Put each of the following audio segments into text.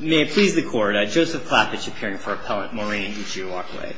May it please the Court, Joseph Klappich appearing for Appellant Maureen Uche-Uwakwe.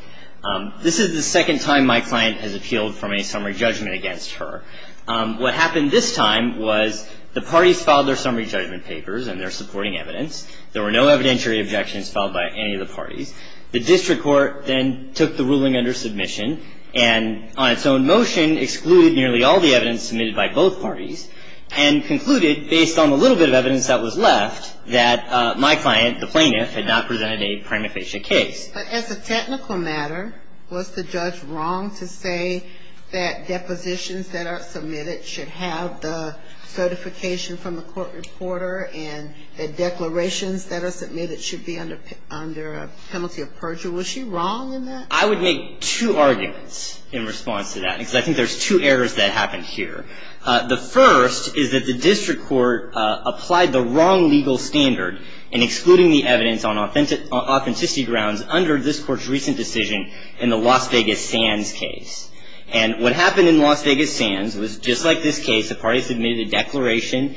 This is the second time my client has appealed from a summary judgment against her. What happened this time was the parties filed their summary judgment papers and their supporting evidence. There were no evidentiary objections filed by any of the parties. The district court then took the ruling under submission and on its own motion excluded nearly all the evidence submitted by both parties and concluded, based on the little bit of evidence that was left, that my client, the plaintiff, had not presented a prima facie case. But as a technical matter, was the judge wrong to say that depositions that are submitted should have the certification from the court reporter and that declarations that are submitted should be under a penalty of perjury? Was she wrong in that? I would make two arguments in response to that because I think there's two errors that happened here. The first is that the district court applied the wrong legal standard in excluding the evidence on authenticity grounds under this court's recent decision in the Las Vegas Sands case. And what happened in Las Vegas Sands was, just like this case, the parties submitted a declaration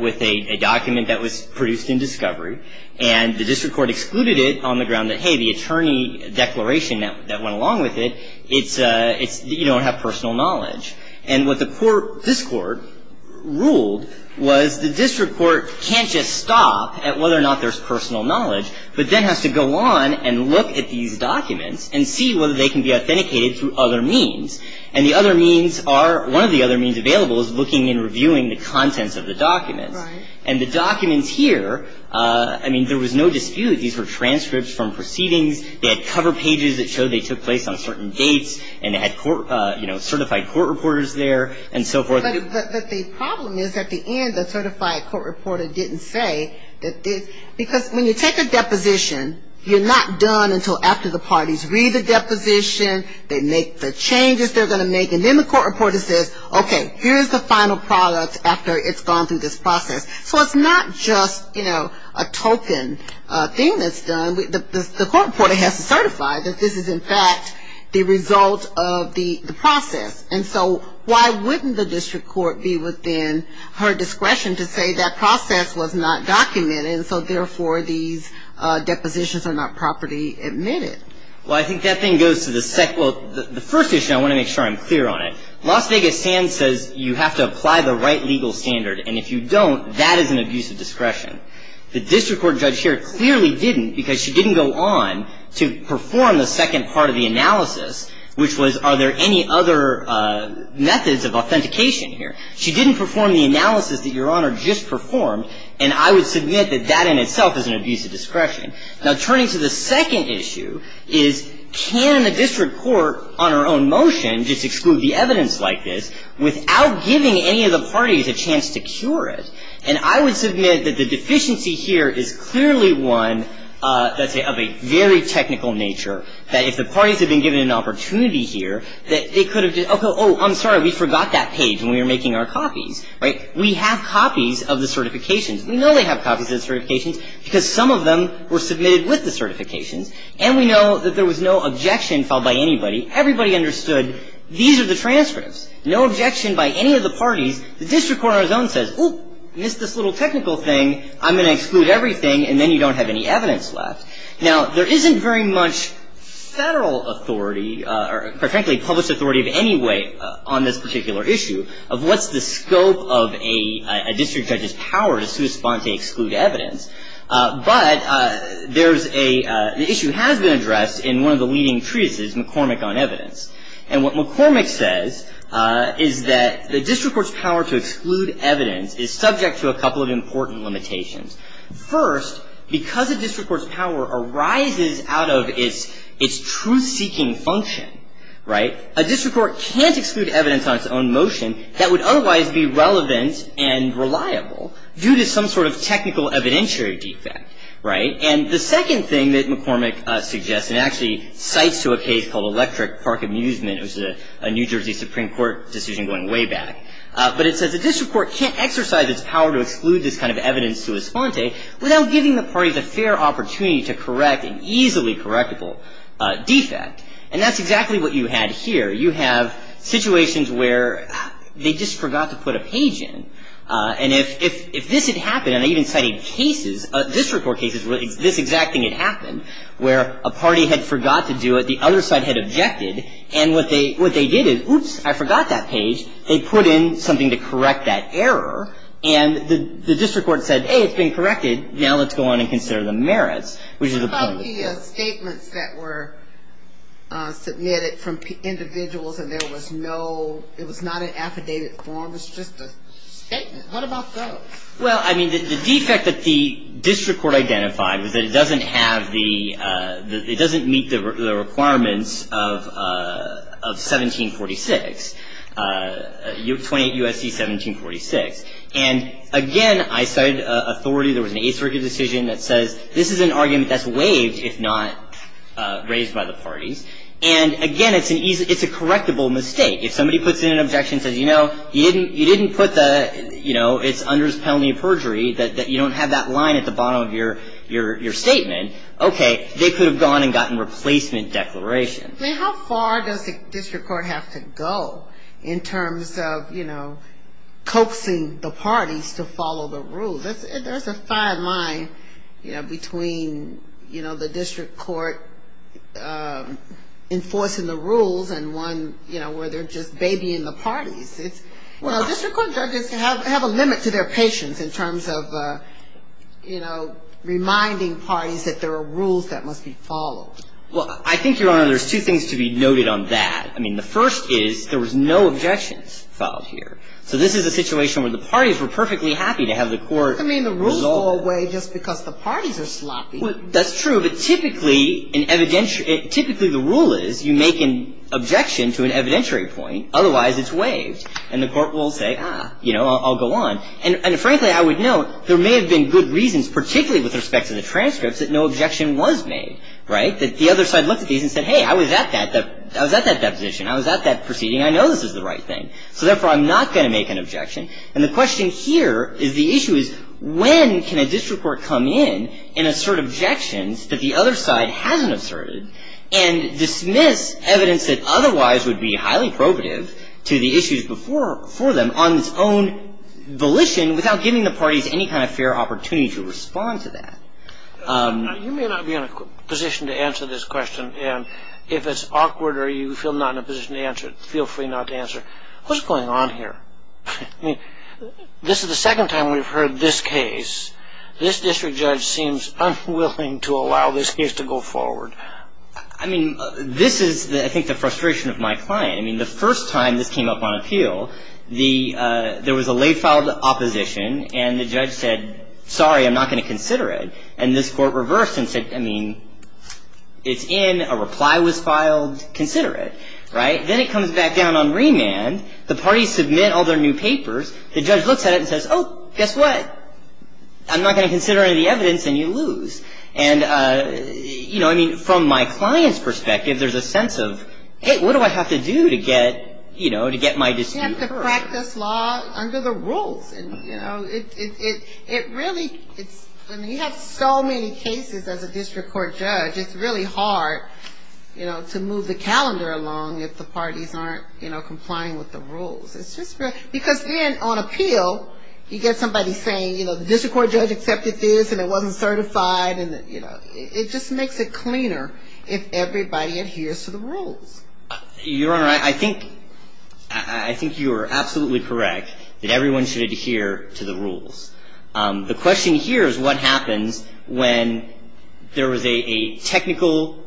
with a document that was produced in discovery and the district court excluded it on the ground that, hey, the attorney declaration that went along with it, you don't have personal knowledge. And what the court, this court, ruled was the district court can't just stop at whether or not there's personal knowledge, but then has to go on and look at these documents and see whether they can be authenticated through other means. And the other means are, one of the other means available is looking and reviewing the contents of the documents. And the documents here, I mean, there was no dispute that these were transcripts from proceedings. They had cover pages that showed they took place on certain dates and they had, you know, certified court reporters there and so forth. But the problem is, at the end, the certified court reporter didn't say that they, because when you take a deposition, you're not done until after the parties read the deposition, they make the changes they're going to make, and then the court reporter says, okay, here's the final product after it's gone through this process. So it's not just, you know, a token thing that's done. The court reporter has to certify that this is, in fact, the result of the process. And so why wouldn't the district court be within her discretion to say that process was not documented and so, therefore, these depositions are not properly admitted? Well, I think that thing goes to the second, well, the first issue, I want to make sure I'm clear on it. Las Vegas Sands says you have to apply the right legal standard, and if you don't, that is an abuse of discretion. The district court judge here clearly didn't because she didn't go on to perform the second part of the analysis, which was are there any other methods of authentication here. She didn't perform the analysis that Your Honor just performed, and I would submit that that in itself is an abuse of discretion. Now, turning to the second issue is can a district court on her own motion just exclude the evidence like this without giving any of the parties a chance to cure it? And I would submit that the deficiency here is clearly one that's of a very technical nature, that if the parties had been given an opportunity here, that they could have just, oh, I'm sorry, we forgot that page when we were making our copies, right? We have copies of the certifications. We know they have copies of the certifications because some of them were submitted with the certifications, and we know that there was no objection filed by anybody. Everybody understood these are the transcripts, no objection by any of the parties. The district court on its own says, oh, missed this little technical thing. I'm going to exclude everything, and then you don't have any evidence left. Now, there isn't very much federal authority or, quite frankly, published authority of any way on this particular issue of what's the scope of a district judge's power to correspond to exclude evidence. But there's a issue that has been addressed in one of the leading treatises, McCormick on Evidence. And what McCormick says is that the district court's power to exclude evidence is subject to a couple of important limitations. First, because a district court's power arises out of its truth-seeking function, right, a district court can't exclude evidence on its own motion that would otherwise be relevant and reliable due to some sort of technical evidentiary defect, right? And the second thing that McCormick suggests and actually cites to a case called Electric Park Amusement, which is a New Jersey Supreme Court decision going way back, but it says a district court can't exercise its power to exclude this kind of evidence to a sponte without giving the parties a fair opportunity to correct an easily correctable defect. And that's exactly what you had here. You have situations where they just forgot to put a page in. And if this had happened, and I even cited cases, district court cases where this exact thing had happened, where a party had forgot to do it, the other side had objected. And what they did is, oops, I forgot that page. They put in something to correct that error. And the district court said, hey, it's been corrected. Now let's go on and consider the merits, which is the point. I see statements that were submitted from individuals and there was no, it was not an affidavit form. It was just a statement. What about those? Well, I mean, the defect that the district court identified was that it doesn't have the, it doesn't meet the requirements of 1746, 28 U.S.C. 1746. And, again, I cited authority. There was an ace verdict decision that says this is an argument that's waived if not raised by the parties. And, again, it's an easy, it's a correctable mistake. If somebody puts in an objection and says, you know, you didn't put the, you know, it's under this penalty of perjury that you don't have that line at the bottom of your statement, okay, they could have gone and gotten replacement declarations. How far does the district court have to go in terms of, you know, coaxing the parties to follow the rule? There's a fine line, you know, between, you know, the district court enforcing the rules and one, you know, where they're just babying the parties. You know, district court judges have a limit to their patience in terms of, you know, reminding parties that there are rules that must be followed. Well, I think, Your Honor, there's two things to be noted on that. I mean, the first is there was no objections filed here. So this is a situation where the parties were perfectly happy to have the court resolve it. I mean, the rules go away just because the parties are sloppy. Well, that's true. But typically, an evidentiary, typically the rule is you make an objection to an evidentiary point. Otherwise, it's waived. And the court will say, ah, you know, I'll go on. And, frankly, I would note there may have been good reasons, particularly with respect to the transcripts, that no objection was made, right, that the other side looked at these and said, hey, I was at that, I was at that deposition. I was at that proceeding. I know this is the right thing. So, therefore, I'm not going to make an objection. And the question here is the issue is when can a district court come in and assert objections that the other side hasn't asserted and dismiss evidence that otherwise would be highly probative to the issues before them on its own volition without giving the parties any kind of fair opportunity to respond to that. You may not be in a position to answer this question. And if it's awkward or you feel not in a position to answer it, feel free not to answer. What's going on here? I mean, this is the second time we've heard this case. This district judge seems unwilling to allow this case to go forward. I mean, this is, I think, the frustration of my client. I mean, the first time this came up on appeal, there was a late filed opposition and the judge said, sorry, I'm not going to consider it. And this court reversed and said, I mean, it's in, a reply was filed, consider it, right. Then it comes back down on remand. The parties submit all their new papers. The judge looks at it and says, oh, guess what? I'm not going to consider any of the evidence and you lose. And, you know, I mean, from my client's perspective, there's a sense of, hey, what do I have to do to get, you know, to get my dispute heard? You have to practice law under the rules. And, you know, it really, it's, I mean, you have so many cases as a district court judge, it's really hard, you know, to move the calendar along if the parties aren't, you know, complying with the rules. It's just, because then on appeal, you get somebody saying, you know, the district court judge accepted this and it wasn't certified and, you know, it just makes it cleaner if everybody adheres to the rules. Your Honor, I think, I think you are absolutely correct that everyone should adhere to the rules. The question here is what happens when there was a technical,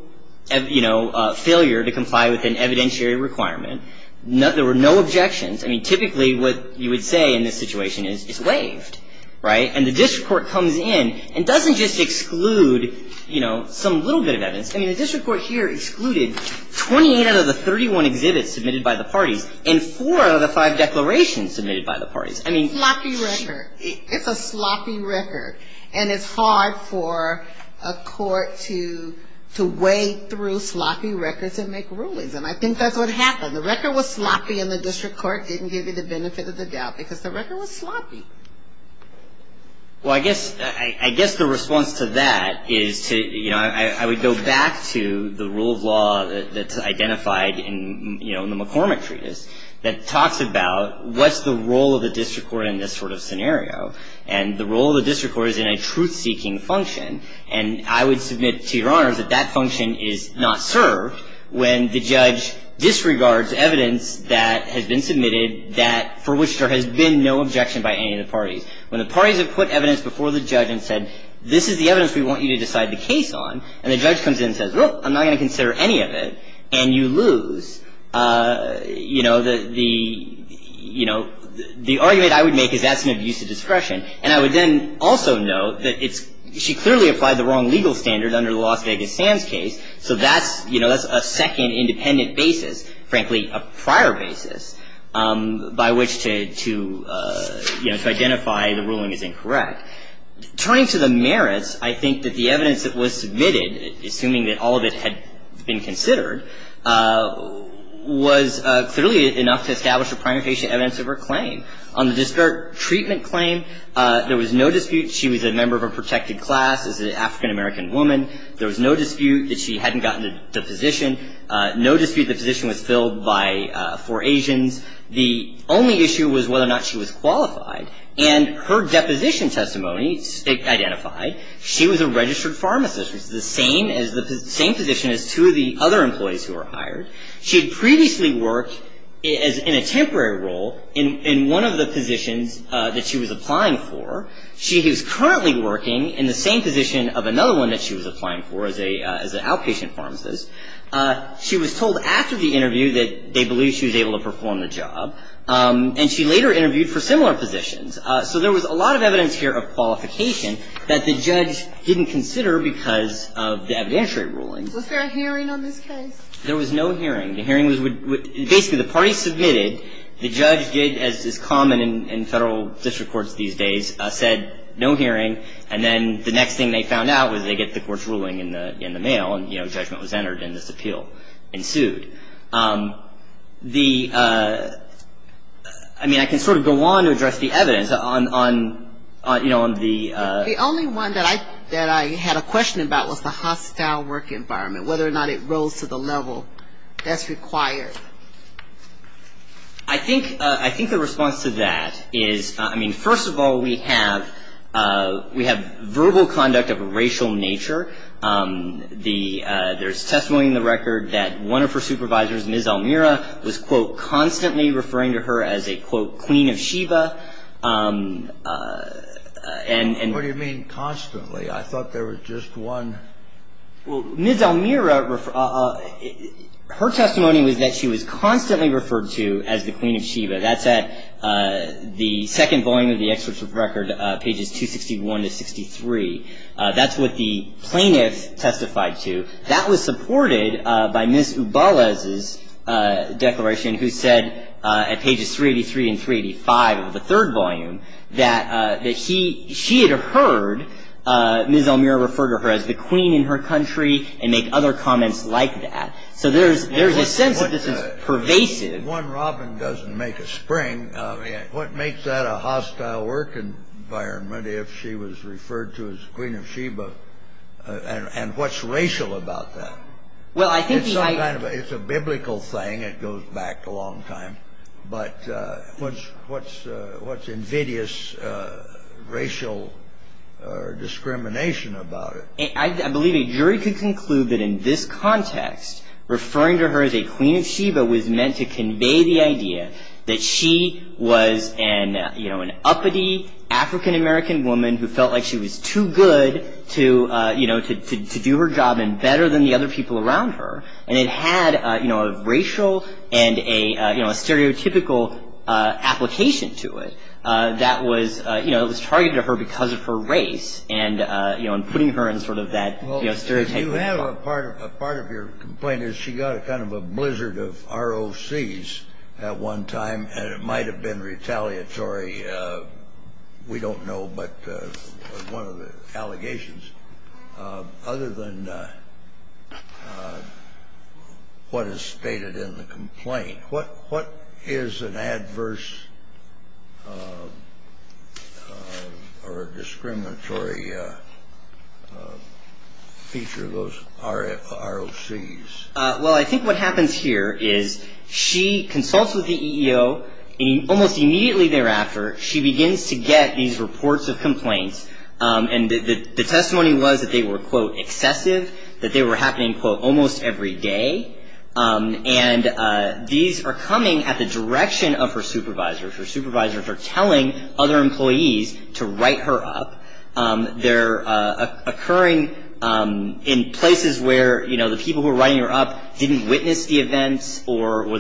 you know, failure to comply with an evidentiary requirement. There were no objections. I mean, typically what you would say in this situation is it's waived, right? And the district court comes in and doesn't just exclude, you know, some little bit of evidence. I mean, the district court here excluded 28 out of the 31 exhibits submitted by the parties and four out of the five declarations submitted by the parties. Sloppy record. It's a sloppy record. And it's hard for a court to wade through sloppy records and make rulings. And I think that's what happened. The record was sloppy and the district court didn't give you the benefit of the doubt because the record was sloppy. Well, I guess the response to that is to, you know, I would go back to the rule of law that's identified in, you know, the McCormick Treatise that talks about what's the role of the district court in this sort of scenario. And the role of the district court is in a truth-seeking function. And I would submit to Your Honors that that function is not served when the judge disregards evidence that has been submitted that for which there has been no objection by any of the parties. When the parties have put evidence before the judge and said, this is the evidence we want you to decide the case on, and the judge comes in and says, well, I'm not going to consider any of it, and you lose, you know, the, you know, the argument I would make is that's an abuse of discretion. And I would then also note that it's, she clearly applied the wrong legal standard under the Las Vegas Sands case. So that's, you know, that's a second independent basis, frankly, a prior basis by which to, you know, to identify the ruling as incorrect. Turning to the merits, I think that the evidence that was submitted, assuming that all of it had been considered, was clearly enough to establish the primary patient evidence of her claim. On the disparate treatment claim, there was no dispute she was a member of a protected class, is an African-American woman. There was no dispute that she hadn't gotten a deposition, no dispute the position was filled by four Asians. The only issue was whether or not she was qualified. And her deposition testimony identified she was a registered pharmacist, which is the same position as two of the other employees who were hired. She had previously worked in a temporary role in one of the positions that she was applying for. She was currently working in the same position of another one that she was applying for as an outpatient pharmacist. She was told after the interview that they believed she was able to perform the job. And she later interviewed for similar positions. So there was a lot of evidence here of qualification that the judge didn't consider because of the evidentiary rulings. Was there a hearing on this case? There was no hearing. The hearing was basically the party submitted. The judge did, as is common in federal district courts these days, said no hearing. And then the next thing they found out was they get the court's ruling in the mail. And, you know, judgment was entered and this appeal ensued. The ‑‑ I mean, I can sort of go on to address the evidence on, you know, on the ‑‑ The only one that I had a question about was the hostile work environment, whether or not it rose to the level that's required. I think the response to that is, I mean, first of all, we have verbal conduct of a racial nature. There's testimony in the record that one of her supervisors, Ms. Almira, was, quote, constantly referring to her as a, quote, queen of Sheba. What do you mean constantly? I thought there was just one. Well, Ms. Almira, her testimony was that she was constantly referred to as the queen of Sheba. That's at the second volume of the excerpt of record, pages 261 to 63. That's what the plaintiff testified to. That was supported by Ms. Ubalez's declaration who said at pages 383 and 385 of the third volume that she had heard Ms. Almira refer to her as the queen in her country and make other comments like that. So there's a sense that this is pervasive. If one robin doesn't make a spring, what makes that a hostile work environment if she was referred to as the queen of Sheba? And what's racial about that? It's a biblical thing. It goes back a long time. But what's invidious racial discrimination about it? I believe a jury could conclude that in this context, referring to her as a queen of Sheba was meant to convey the idea that she was an uppity African-American woman who felt like she was too good to do her job and better than the other people around her. And it had a racial and a stereotypical application to it that was targeted to her because of her race and putting her in sort of that stereotypical spot. You have a part of your complaint is she got a kind of a blizzard of ROCs at one time, and it might have been retaliatory, we don't know, but one of the allegations. Other than what is stated in the complaint, what is an adverse or discriminatory feature of those ROCs? Well, I think what happens here is she consults with the EEO, and almost immediately thereafter, she begins to get these reports of complaints. And the testimony was that they were, quote, excessive, that they were happening, quote, almost every day. And these are coming at the direction of her supervisors. Her supervisors are telling other employees to write her up. They're occurring in places where, you know, the people who are writing her up didn't witness the events or what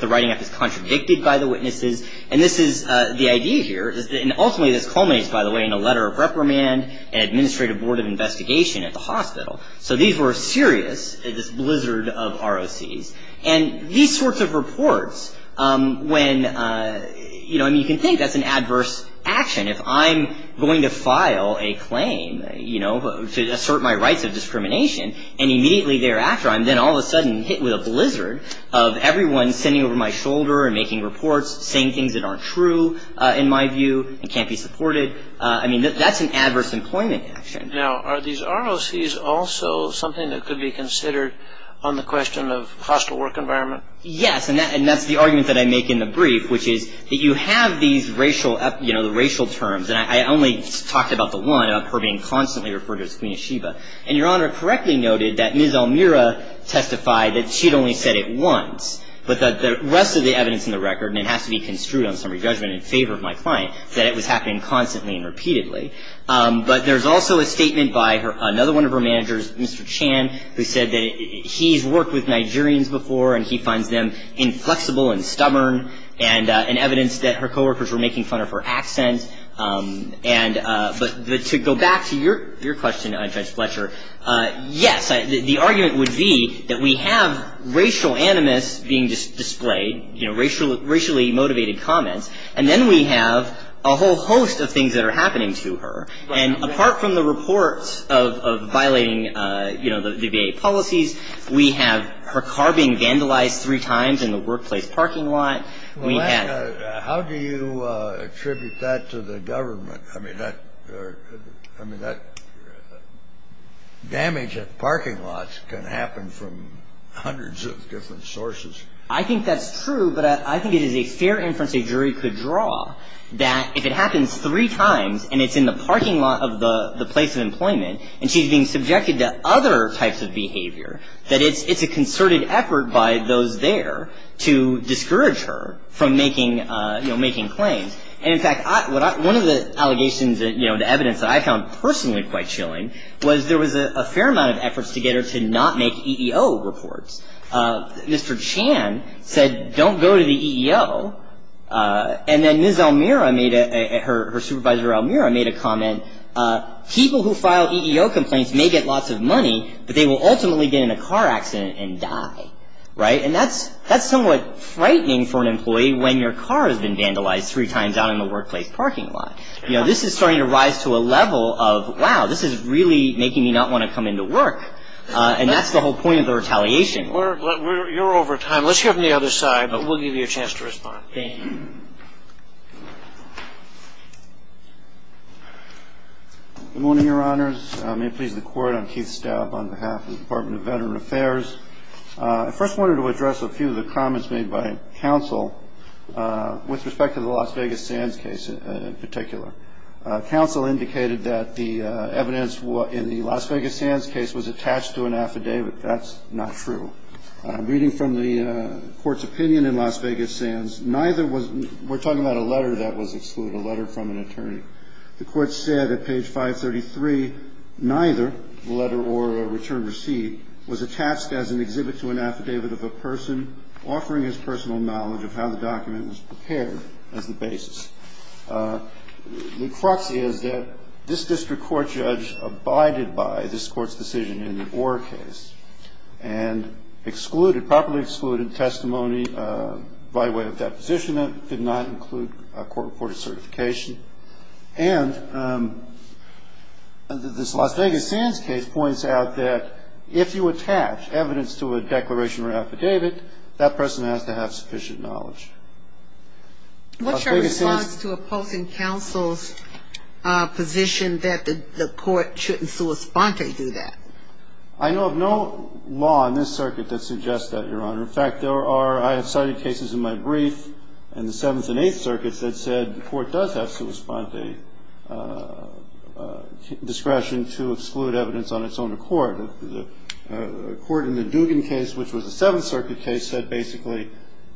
the writing up is contradicted by the witnesses. And this is the idea here, and ultimately this culminates, by the way, in a letter of reprimand and administrative board of investigation at the hospital. So these were serious, this blizzard of ROCs. And these sorts of reports, when, you know, I mean, you can think that's an adverse action. If I'm going to file a claim, you know, to assert my rights of discrimination, and immediately thereafter I'm then all of a sudden hit with a blizzard of everyone sitting over my shoulder and making reports, saying things that aren't true, in my view, and can't be supported. I mean, that's an adverse employment action. Now, are these ROCs also something that could be considered on the question of hostile work environment? Yes. And that's the argument that I make in the brief, which is that you have these racial, you know, the racial terms. And I only talked about the one, of her being constantly referred to as Queen Yeshiva. And Your Honor correctly noted that Ms. Almira testified that she'd only said it once, but that the rest of the evidence in the record, and it has to be construed on summary judgment in favor of my client, that it was happening constantly and repeatedly. But there's also a statement by another one of her managers, Mr. Chan, who said that he's worked with Nigerians before, and he finds them inflexible and stubborn, and evidence that her coworkers were making fun of her accent. But to go back to your question, Judge Fletcher, yes. The argument would be that we have racial animus being displayed, you know, racially motivated comments, and then we have a whole host of things that are happening to her. And apart from the reports of violating, you know, the VA policies, we have her car being vandalized three times in the workplace parking lot. We have ---- Well, how do you attribute that to the government? I mean, that damage at parking lots can happen from hundreds of different sources. I think that's true, but I think it is a fair inference a jury could draw that if it happens three times and it's in the parking lot of the place of employment, and she's being subjected to other types of behavior, that it's a concerted effort by those there to discourage her from making, you know, making claims. And, in fact, one of the allegations that, you know, the evidence that I found personally quite chilling was there was a fair amount of efforts to get her to not make EEO reports. Mr. Chan said, don't go to the EEO. And then Ms. Almira made a ---- her supervisor Almira made a comment, people who file EEO complaints may get lots of money, but they will ultimately get in a car accident and die. Right? And that's somewhat frightening for an employee when your car has been vandalized three times out in the workplace parking lot. You know, this is starting to rise to a level of, wow, this is really making me not want to come into work. And that's the whole point of the retaliation. You're over time. Let's hear from the other side, but we'll give you a chance to respond. Thank you. Good morning, Your Honors. May it please the Court, I'm Keith Staub on behalf of the Department of Veteran Affairs. I first wanted to address a few of the comments made by counsel with respect to the Las Vegas Sands case in particular. Counsel indicated that the evidence in the Las Vegas Sands case was attached to an affidavit. That's not true. Reading from the Court's opinion in Las Vegas Sands, neither was ---- we're talking about a letter that was excluded, a letter from an attorney. The Court said at page 533, neither letter or return receipt was attached as an exhibit to an affidavit of a person offering his personal knowledge of how the document was prepared as the basis. The crux is that this district court judge abided by this Court's decision in the Orr case and excluded, properly excluded testimony by way of deposition that did not include a court-reported certification. And this Las Vegas Sands case points out that if you attach evidence to a declaration or affidavit, that person has to have sufficient knowledge. What's your response to opposing counsel's position that the Court shouldn't sua sponte do that? I know of no law in this circuit that suggests that, Your Honor. In fact, there are ---- I have cited cases in my brief in the Seventh and Eighth Circuits that said the Court does have sua sponte discretion to exclude evidence on its own accord. A court in the Dugan case, which was a Seventh Circuit case, said basically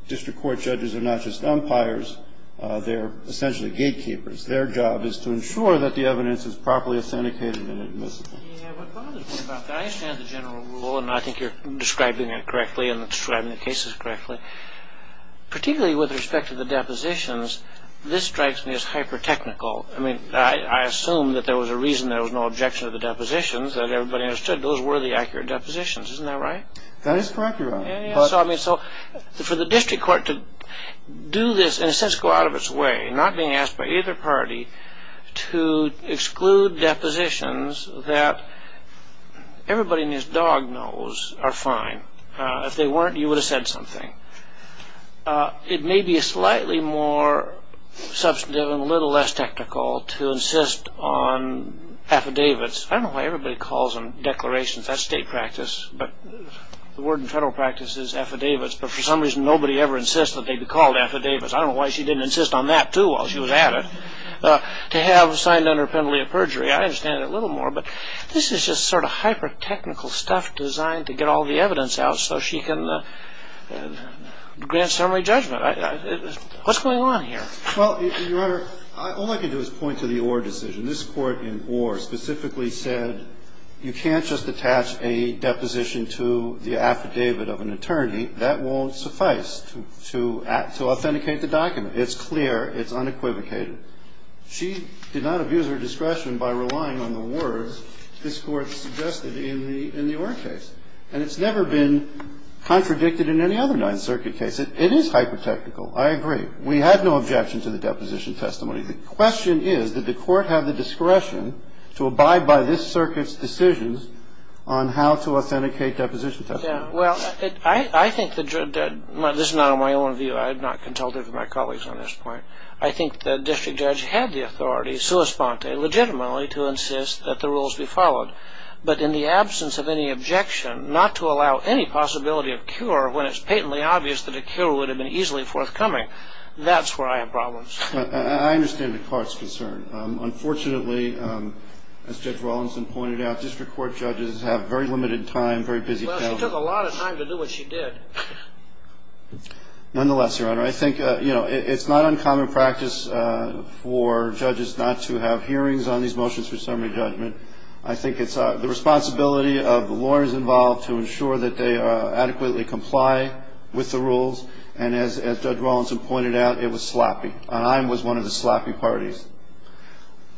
district court judges are not just umpires. They're essentially gatekeepers. Their job is to ensure that the evidence is properly authenticated and admissible. Yeah, what bothers me about that, I understand the general rule, and I think you're describing it correctly and describing the cases correctly. Particularly with respect to the depositions, this strikes me as hyper-technical. I mean, I assume that there was a reason there was no objection to the depositions, that everybody understood those were the accurate depositions. Isn't that right? That is correct, Your Honor. Yeah, yeah. So, I mean, for the district court to do this and in a sense go out of its way, not being asked by either party to exclude depositions that everybody in his dog knows are fine. If they weren't, you would have said something. It may be slightly more substantive and a little less technical to insist on affidavits. I don't know why everybody calls them declarations. That's state practice, but the word in federal practice is affidavits. But for some reason, nobody ever insists that they be called affidavits. I don't know why she didn't insist on that, too, while she was at it. To have signed under penalty of perjury, I understand it a little more. But this is just sort of hyper-technical stuff designed to get all the evidence out so she can grant summary judgment. What's going on here? Well, Your Honor, all I can do is point to the Orr decision. This court in Orr specifically said you can't just attach a deposition to the affidavit of an attorney. That won't suffice to authenticate the document. It's clear. It's unequivocated. She did not abuse her discretion by relying on the words this Court suggested in the Orr case. And it's never been contradicted in any other Ninth Circuit case. It is hyper-technical. I agree. We had no objection to the deposition testimony. The question is, did the Court have the discretion to abide by this Circuit's decisions on how to authenticate deposition testimony? Well, I think that this is not my own view. I am not contemplative of my colleagues on this point. I think the district judge had the authority, sua sponte, legitimately to insist that the rules be followed. But in the absence of any objection, not to allow any possibility of cure when it's patently obvious that a cure would have been easily forthcoming, that's where I have problems. I understand the Court's concern. Unfortunately, as Judge Rawlinson pointed out, district court judges have very limited time, very busy schedules. Well, she took a lot of time to do what she did. Nonetheless, Your Honor, I think it's not uncommon practice for judges not to have hearings on these motions for summary judgment. I think it's the responsibility of the lawyers involved to ensure that they adequately comply with the rules. And as Judge Rawlinson pointed out, it was sloppy, and I was one of the sloppy parties.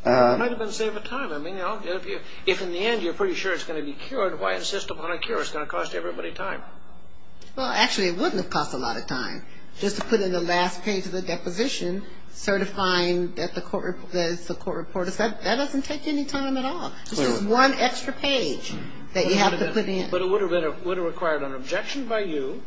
It might have been a save of time. I mean, if in the end you're pretty sure it's going to be cured, why insist upon a cure? It's going to cost everybody time. Well, actually, it wouldn't have cost a lot of time just to put in the last page of the deposition certifying that it's the court reporter's. That doesn't take any time at all. It's just one extra page that you have to put in. But it would have required an objection by you,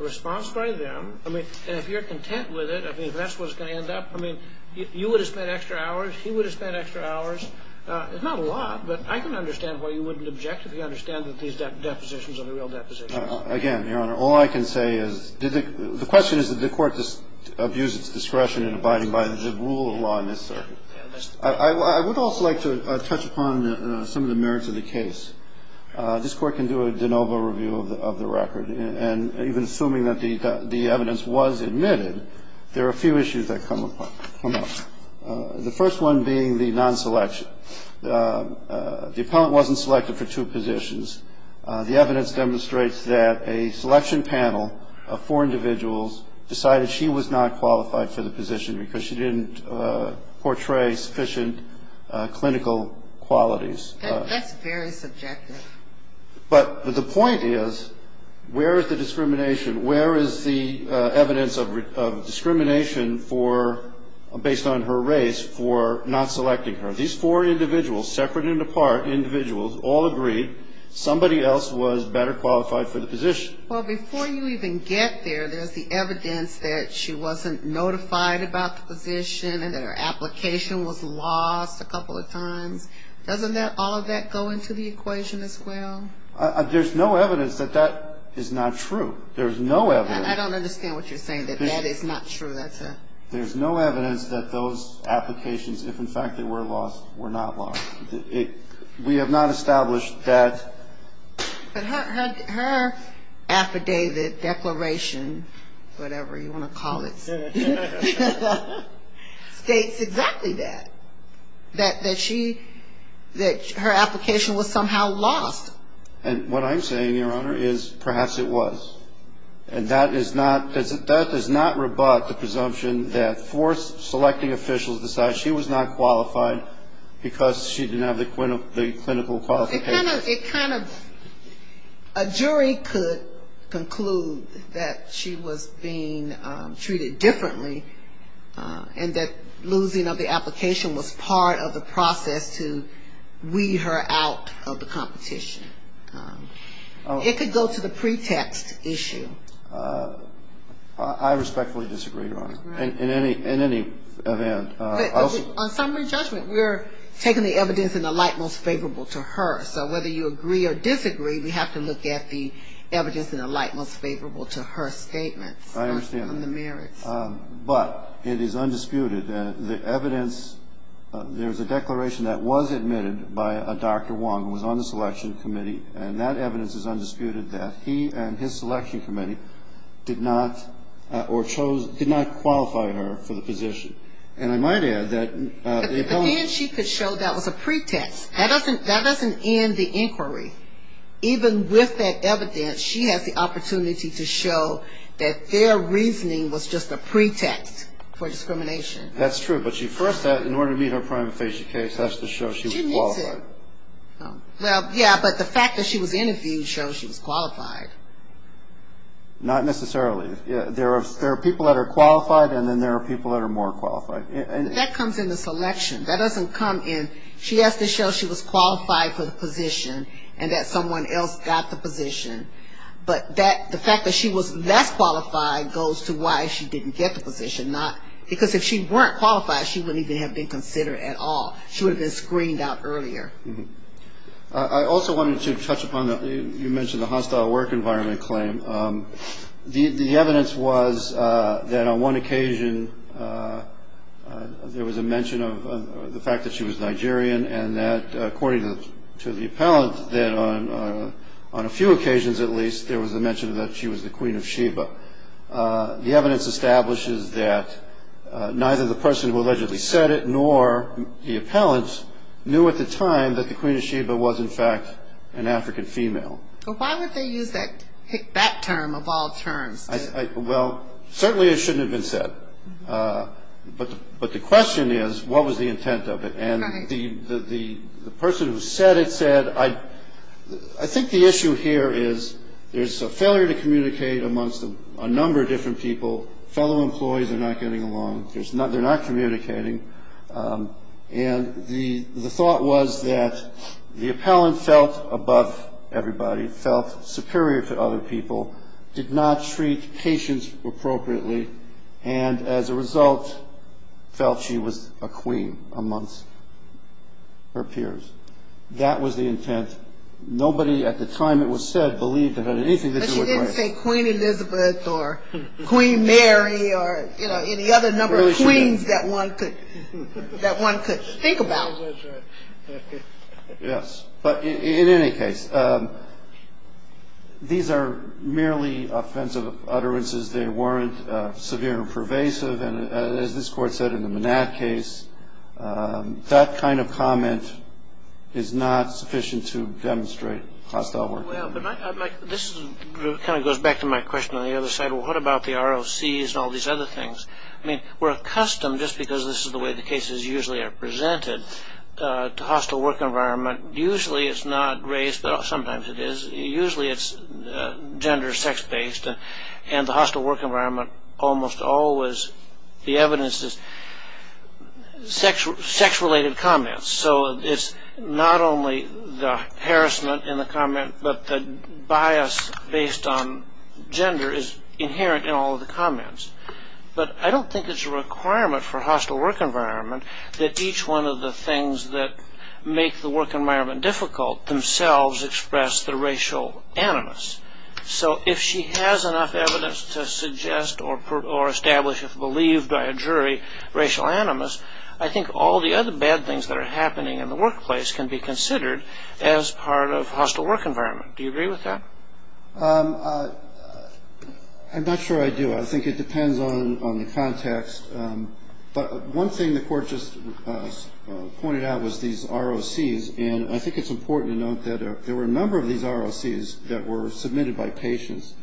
a response by them. I mean, and if you're content with it, I mean, if that's what's going to end up. I mean, you would have spent extra hours. He would have spent extra hours. It's not a lot, but I can understand why you wouldn't object if you understand that these depositions are the real depositions. Again, Your Honor, all I can say is the question is that the court abused its discretion in abiding by the rule of law in this circuit. I would also like to touch upon some of the merits of the case. This Court can do a de novo review of the record. And even assuming that the evidence was admitted, there are a few issues that come up. The first one being the nonselection. The appellant wasn't selected for two positions. The evidence demonstrates that a selection panel of four individuals decided she was not qualified for the position because she didn't portray sufficient clinical qualities. That's very subjective. But the point is, where is the discrimination? Where is the evidence of discrimination based on her race for not selecting her? These four individuals, separate and apart individuals, all agreed somebody else was better qualified for the position. Well, before you even get there, there's the evidence that she wasn't notified about the position and that her application was lost a couple of times. Doesn't all of that go into the equation as well? There's no evidence that that is not true. There's no evidence. I don't understand what you're saying, that that is not true. There's no evidence that those applications, if in fact they were lost, were not lost. We have not established that. But her affidavit, declaration, whatever you want to call it, states exactly that. That she, that her application was somehow lost. And what I'm saying, Your Honor, is perhaps it was. And that is not, that does not rebut the presumption that four selecting officials decide she was not qualified because she didn't have the clinical qualifications. It kind of, a jury could conclude that she was being treated differently and that losing of the application was part of the process to weed her out of the competition. It could go to the pretext issue. I respectfully disagree, Your Honor, in any event. But on summary judgment, we're taking the evidence in the light most favorable to her. So whether you agree or disagree, we have to look at the evidence in the light most favorable to her statements. I understand. On the merits. But it is undisputed that the evidence, there's a declaration that was admitted by a Dr. Wong who was on the selection committee, and that evidence is undisputed that he and his selection committee did not, or chose, did not qualify her for the position. And I might add that. But then she could show that was a pretext. That doesn't end the inquiry. Even with that evidence, she has the opportunity to show that their reasoning was just a pretext for discrimination. That's true. But she first said, in order to meet her prima facie case, has to show she was qualified. Well, yeah, but the fact that she was interviewed shows she was qualified. Not necessarily. There are people that are qualified, and then there are people that are more qualified. That comes in the selection. That doesn't come in, she has to show she was qualified for the position and that someone else got the position. But the fact that she was less qualified goes to why she didn't get the position. Because if she weren't qualified, she wouldn't even have been considered at all. She would have been screened out earlier. I also wanted to touch upon, you mentioned the hostile work environment claim. The evidence was that on one occasion there was a mention of the fact that she was Nigerian, and that according to the appellant, that on a few occasions at least, there was a mention that she was the Queen of Sheba. The evidence establishes that neither the person who allegedly said it, nor the appellant, knew at the time that the Queen of Sheba was, in fact, an African female. But why would they use that term, of all terms? Well, certainly it shouldn't have been said. But the question is, what was the intent of it? And the person who said it said, I think the issue here is there's a failure to communicate amongst a number of different people. Fellow employees are not getting along. They're not communicating. And the thought was that the appellant felt above everybody, felt superior to other people, did not treat patients appropriately, and as a result, felt she was a queen amongst her peers. That was the intent. Nobody at the time it was said believed it had anything to do with race. But she didn't say Queen Elizabeth or Queen Mary or any other number of queens that one could think about. Yes. But in any case, these are merely offensive utterances. They weren't severe or pervasive. And as this Court said in the Manat case, that kind of comment is not sufficient to demonstrate hostile work. Well, but this kind of goes back to my question on the other side. What about the ROCs and all these other things? I mean, we're accustomed, just because this is the way the cases usually are presented, to hostile work environment. Usually it's not race, but sometimes it is. Usually it's gender, sex-based. And the hostile work environment almost always, the evidence is sex-related comments. So it's not only the harassment in the comment, but the bias based on gender is inherent in all of the comments. But I don't think it's a requirement for hostile work environment that each one of the things that make the work environment difficult themselves express the racial animus. So if she has enough evidence to suggest or establish, if believed by a jury, racial animus, I think all the other bad things that are happening in the workplace can be considered as part of hostile work environment. Do you agree with that? I'm not sure I do. I think it depends on the context. But one thing the court just pointed out was these ROCs. And I think it's important to note that there were a number of these ROCs that were submitted by patients.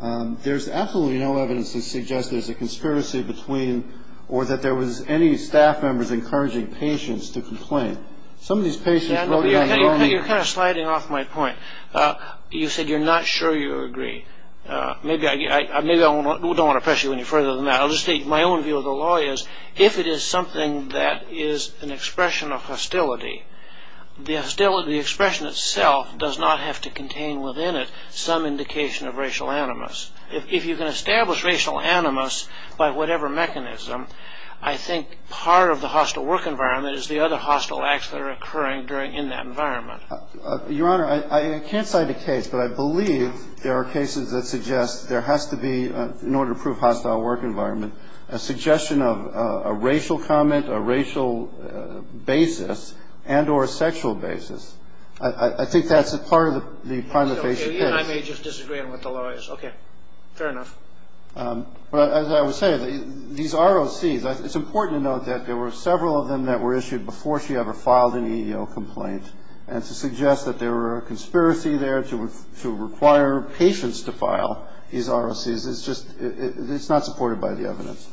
There's absolutely no evidence to suggest there's a conspiracy between or that there was any staff members encouraging patients to complain. Some of these patients wrote in on their own. You're kind of sliding off my point. You said you're not sure you agree. Maybe I don't want to press you any further than that. I'll just state my own view of the law is if it is something that is an expression of hostility, the expression itself does not have to contain within it some indication of racial animus. If you can establish racial animus by whatever mechanism, I think part of the hostile work environment is the other hostile acts that are occurring in that environment. But I believe there are cases that suggest there has to be, in order to prove hostile work environment, a suggestion of a racial comment, a racial basis, and or a sexual basis. I think that's part of the patient case. I may just disagree with the lawyers. Okay. Fair enough. But as I was saying, these ROCs, it's important to note that there were several of them that were issued before she ever filed an EEO complaint. And to suggest that there were a conspiracy there to require patients to file these ROCs is just, it's not supported by the evidence.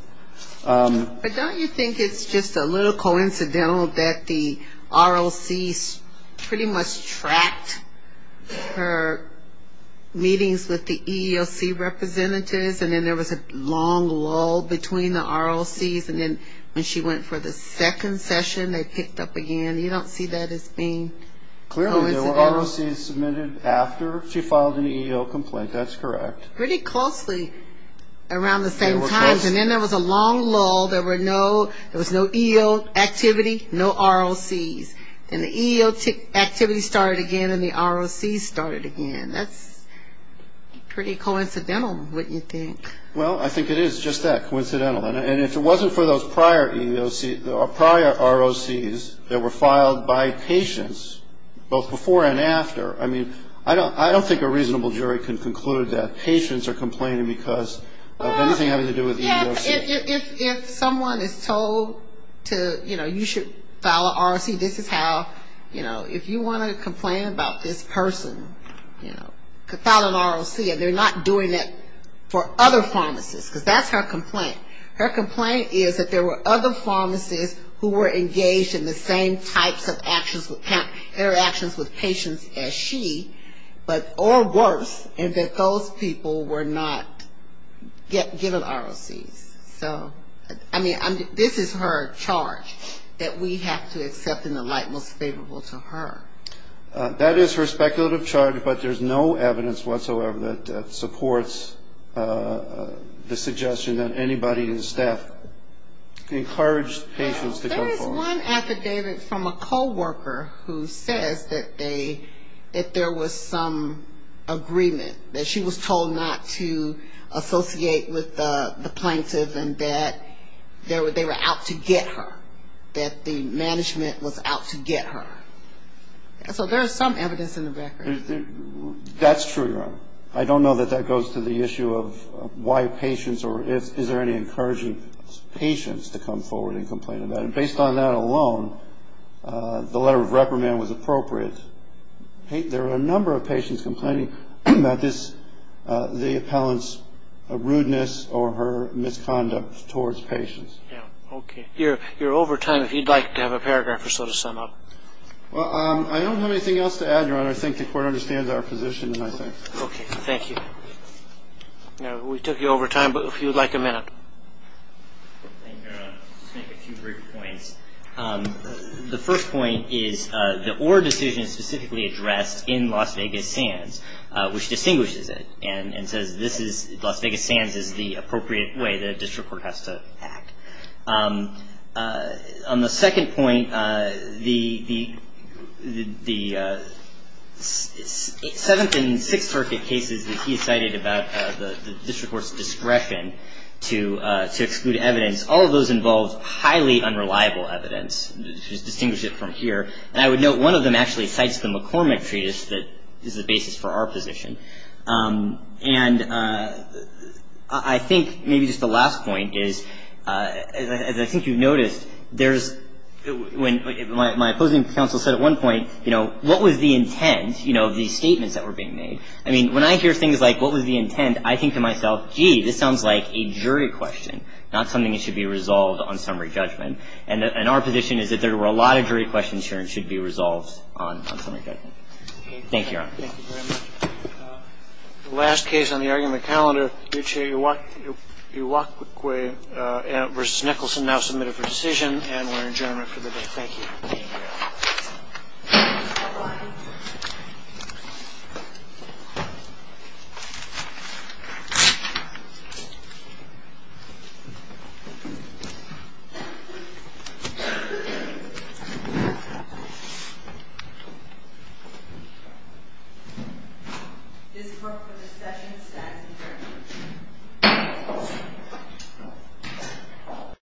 But don't you think it's just a little coincidental that the ROCs pretty much tracked her meetings with the EEOC representatives, and then there was a long lull between the ROCs. And then when she went for the second session, they picked up again. You don't see that as being coincidental. Clearly there were ROCs submitted after she filed an EEO complaint. That's correct. Pretty closely around the same time. They were close. And then there was a long lull. There were no, there was no EEO activity, no ROCs. And the EEO activity started again, and the ROCs started again. That's pretty coincidental, wouldn't you think? Well, I think it is just that, coincidental. And if it wasn't for those prior EEOC, prior ROCs that were filed by patients, both before and after, I mean, I don't think a reasonable jury can conclude that patients are complaining because of anything having to do with EEOC. Well, if someone is told to, you know, you should file an ROC, this is how, you know, if you want to complain about this person, you know, file an ROC. And they're not doing it for other pharmacists, because that's her complaint. Her complaint is that there were other pharmacists who were engaged in the same types of actions, interactions with patients as she, or worse, and that those people were not given ROCs. So, I mean, this is her charge that we have to accept in the light most favorable to her. That is her speculative charge, but there's no evidence whatsoever that supports the suggestion that anybody in staff encouraged patients to go forward. There is one affidavit from a co-worker who says that they, that there was some agreement, that she was told not to associate with the plaintiff and that they were out to get her, that the management was out to get her. So there is some evidence in the record. That's true, Your Honor. I don't know that that goes to the issue of why patients or is there any encouraging patients to come forward and complain about it. Based on that alone, the letter of reprimand was appropriate. There are a number of patients complaining about this, the appellant's rudeness or her misconduct towards patients. Yeah, okay. You're over time. If you'd like to have a paragraph or so to sum up. Well, I don't have anything else to add, Your Honor. I think the Court understands our position, I think. Okay. Thank you. Now, we took you over time, but if you'd like a minute. Thank you, Your Honor. I'll just make a few brief points. The first point is the Orr decision is specifically addressed in Las Vegas SANS, which distinguishes it and says Las Vegas SANS is the appropriate way that a district court has to act. On the second point, the Seventh and Sixth Circuit cases that he cited about the district court's discretion to exclude evidence, all of those involved highly unreliable evidence. Just distinguish it from here. And I would note one of them actually cites the McCormick Treatise that is the basis for our position. And I think maybe just the last point is, as I think you've noticed, there's my opposing counsel said at one point, you know, what was the intent, you know, of these statements that were being made? I mean, when I hear things like what was the intent, I think to myself, gee, this sounds like a jury question, not something that should be resolved on summary judgment. And our position is that there were a lot of jury questions here and should be resolved on summary judgment. Thank you, Your Honor. Thank you very much. The last case on the argument calendar, Uche Iwakukwe v. Nicholson now submitted for decision. And we're adjourned for the day. Thank you. This court for discussion stands adjourned.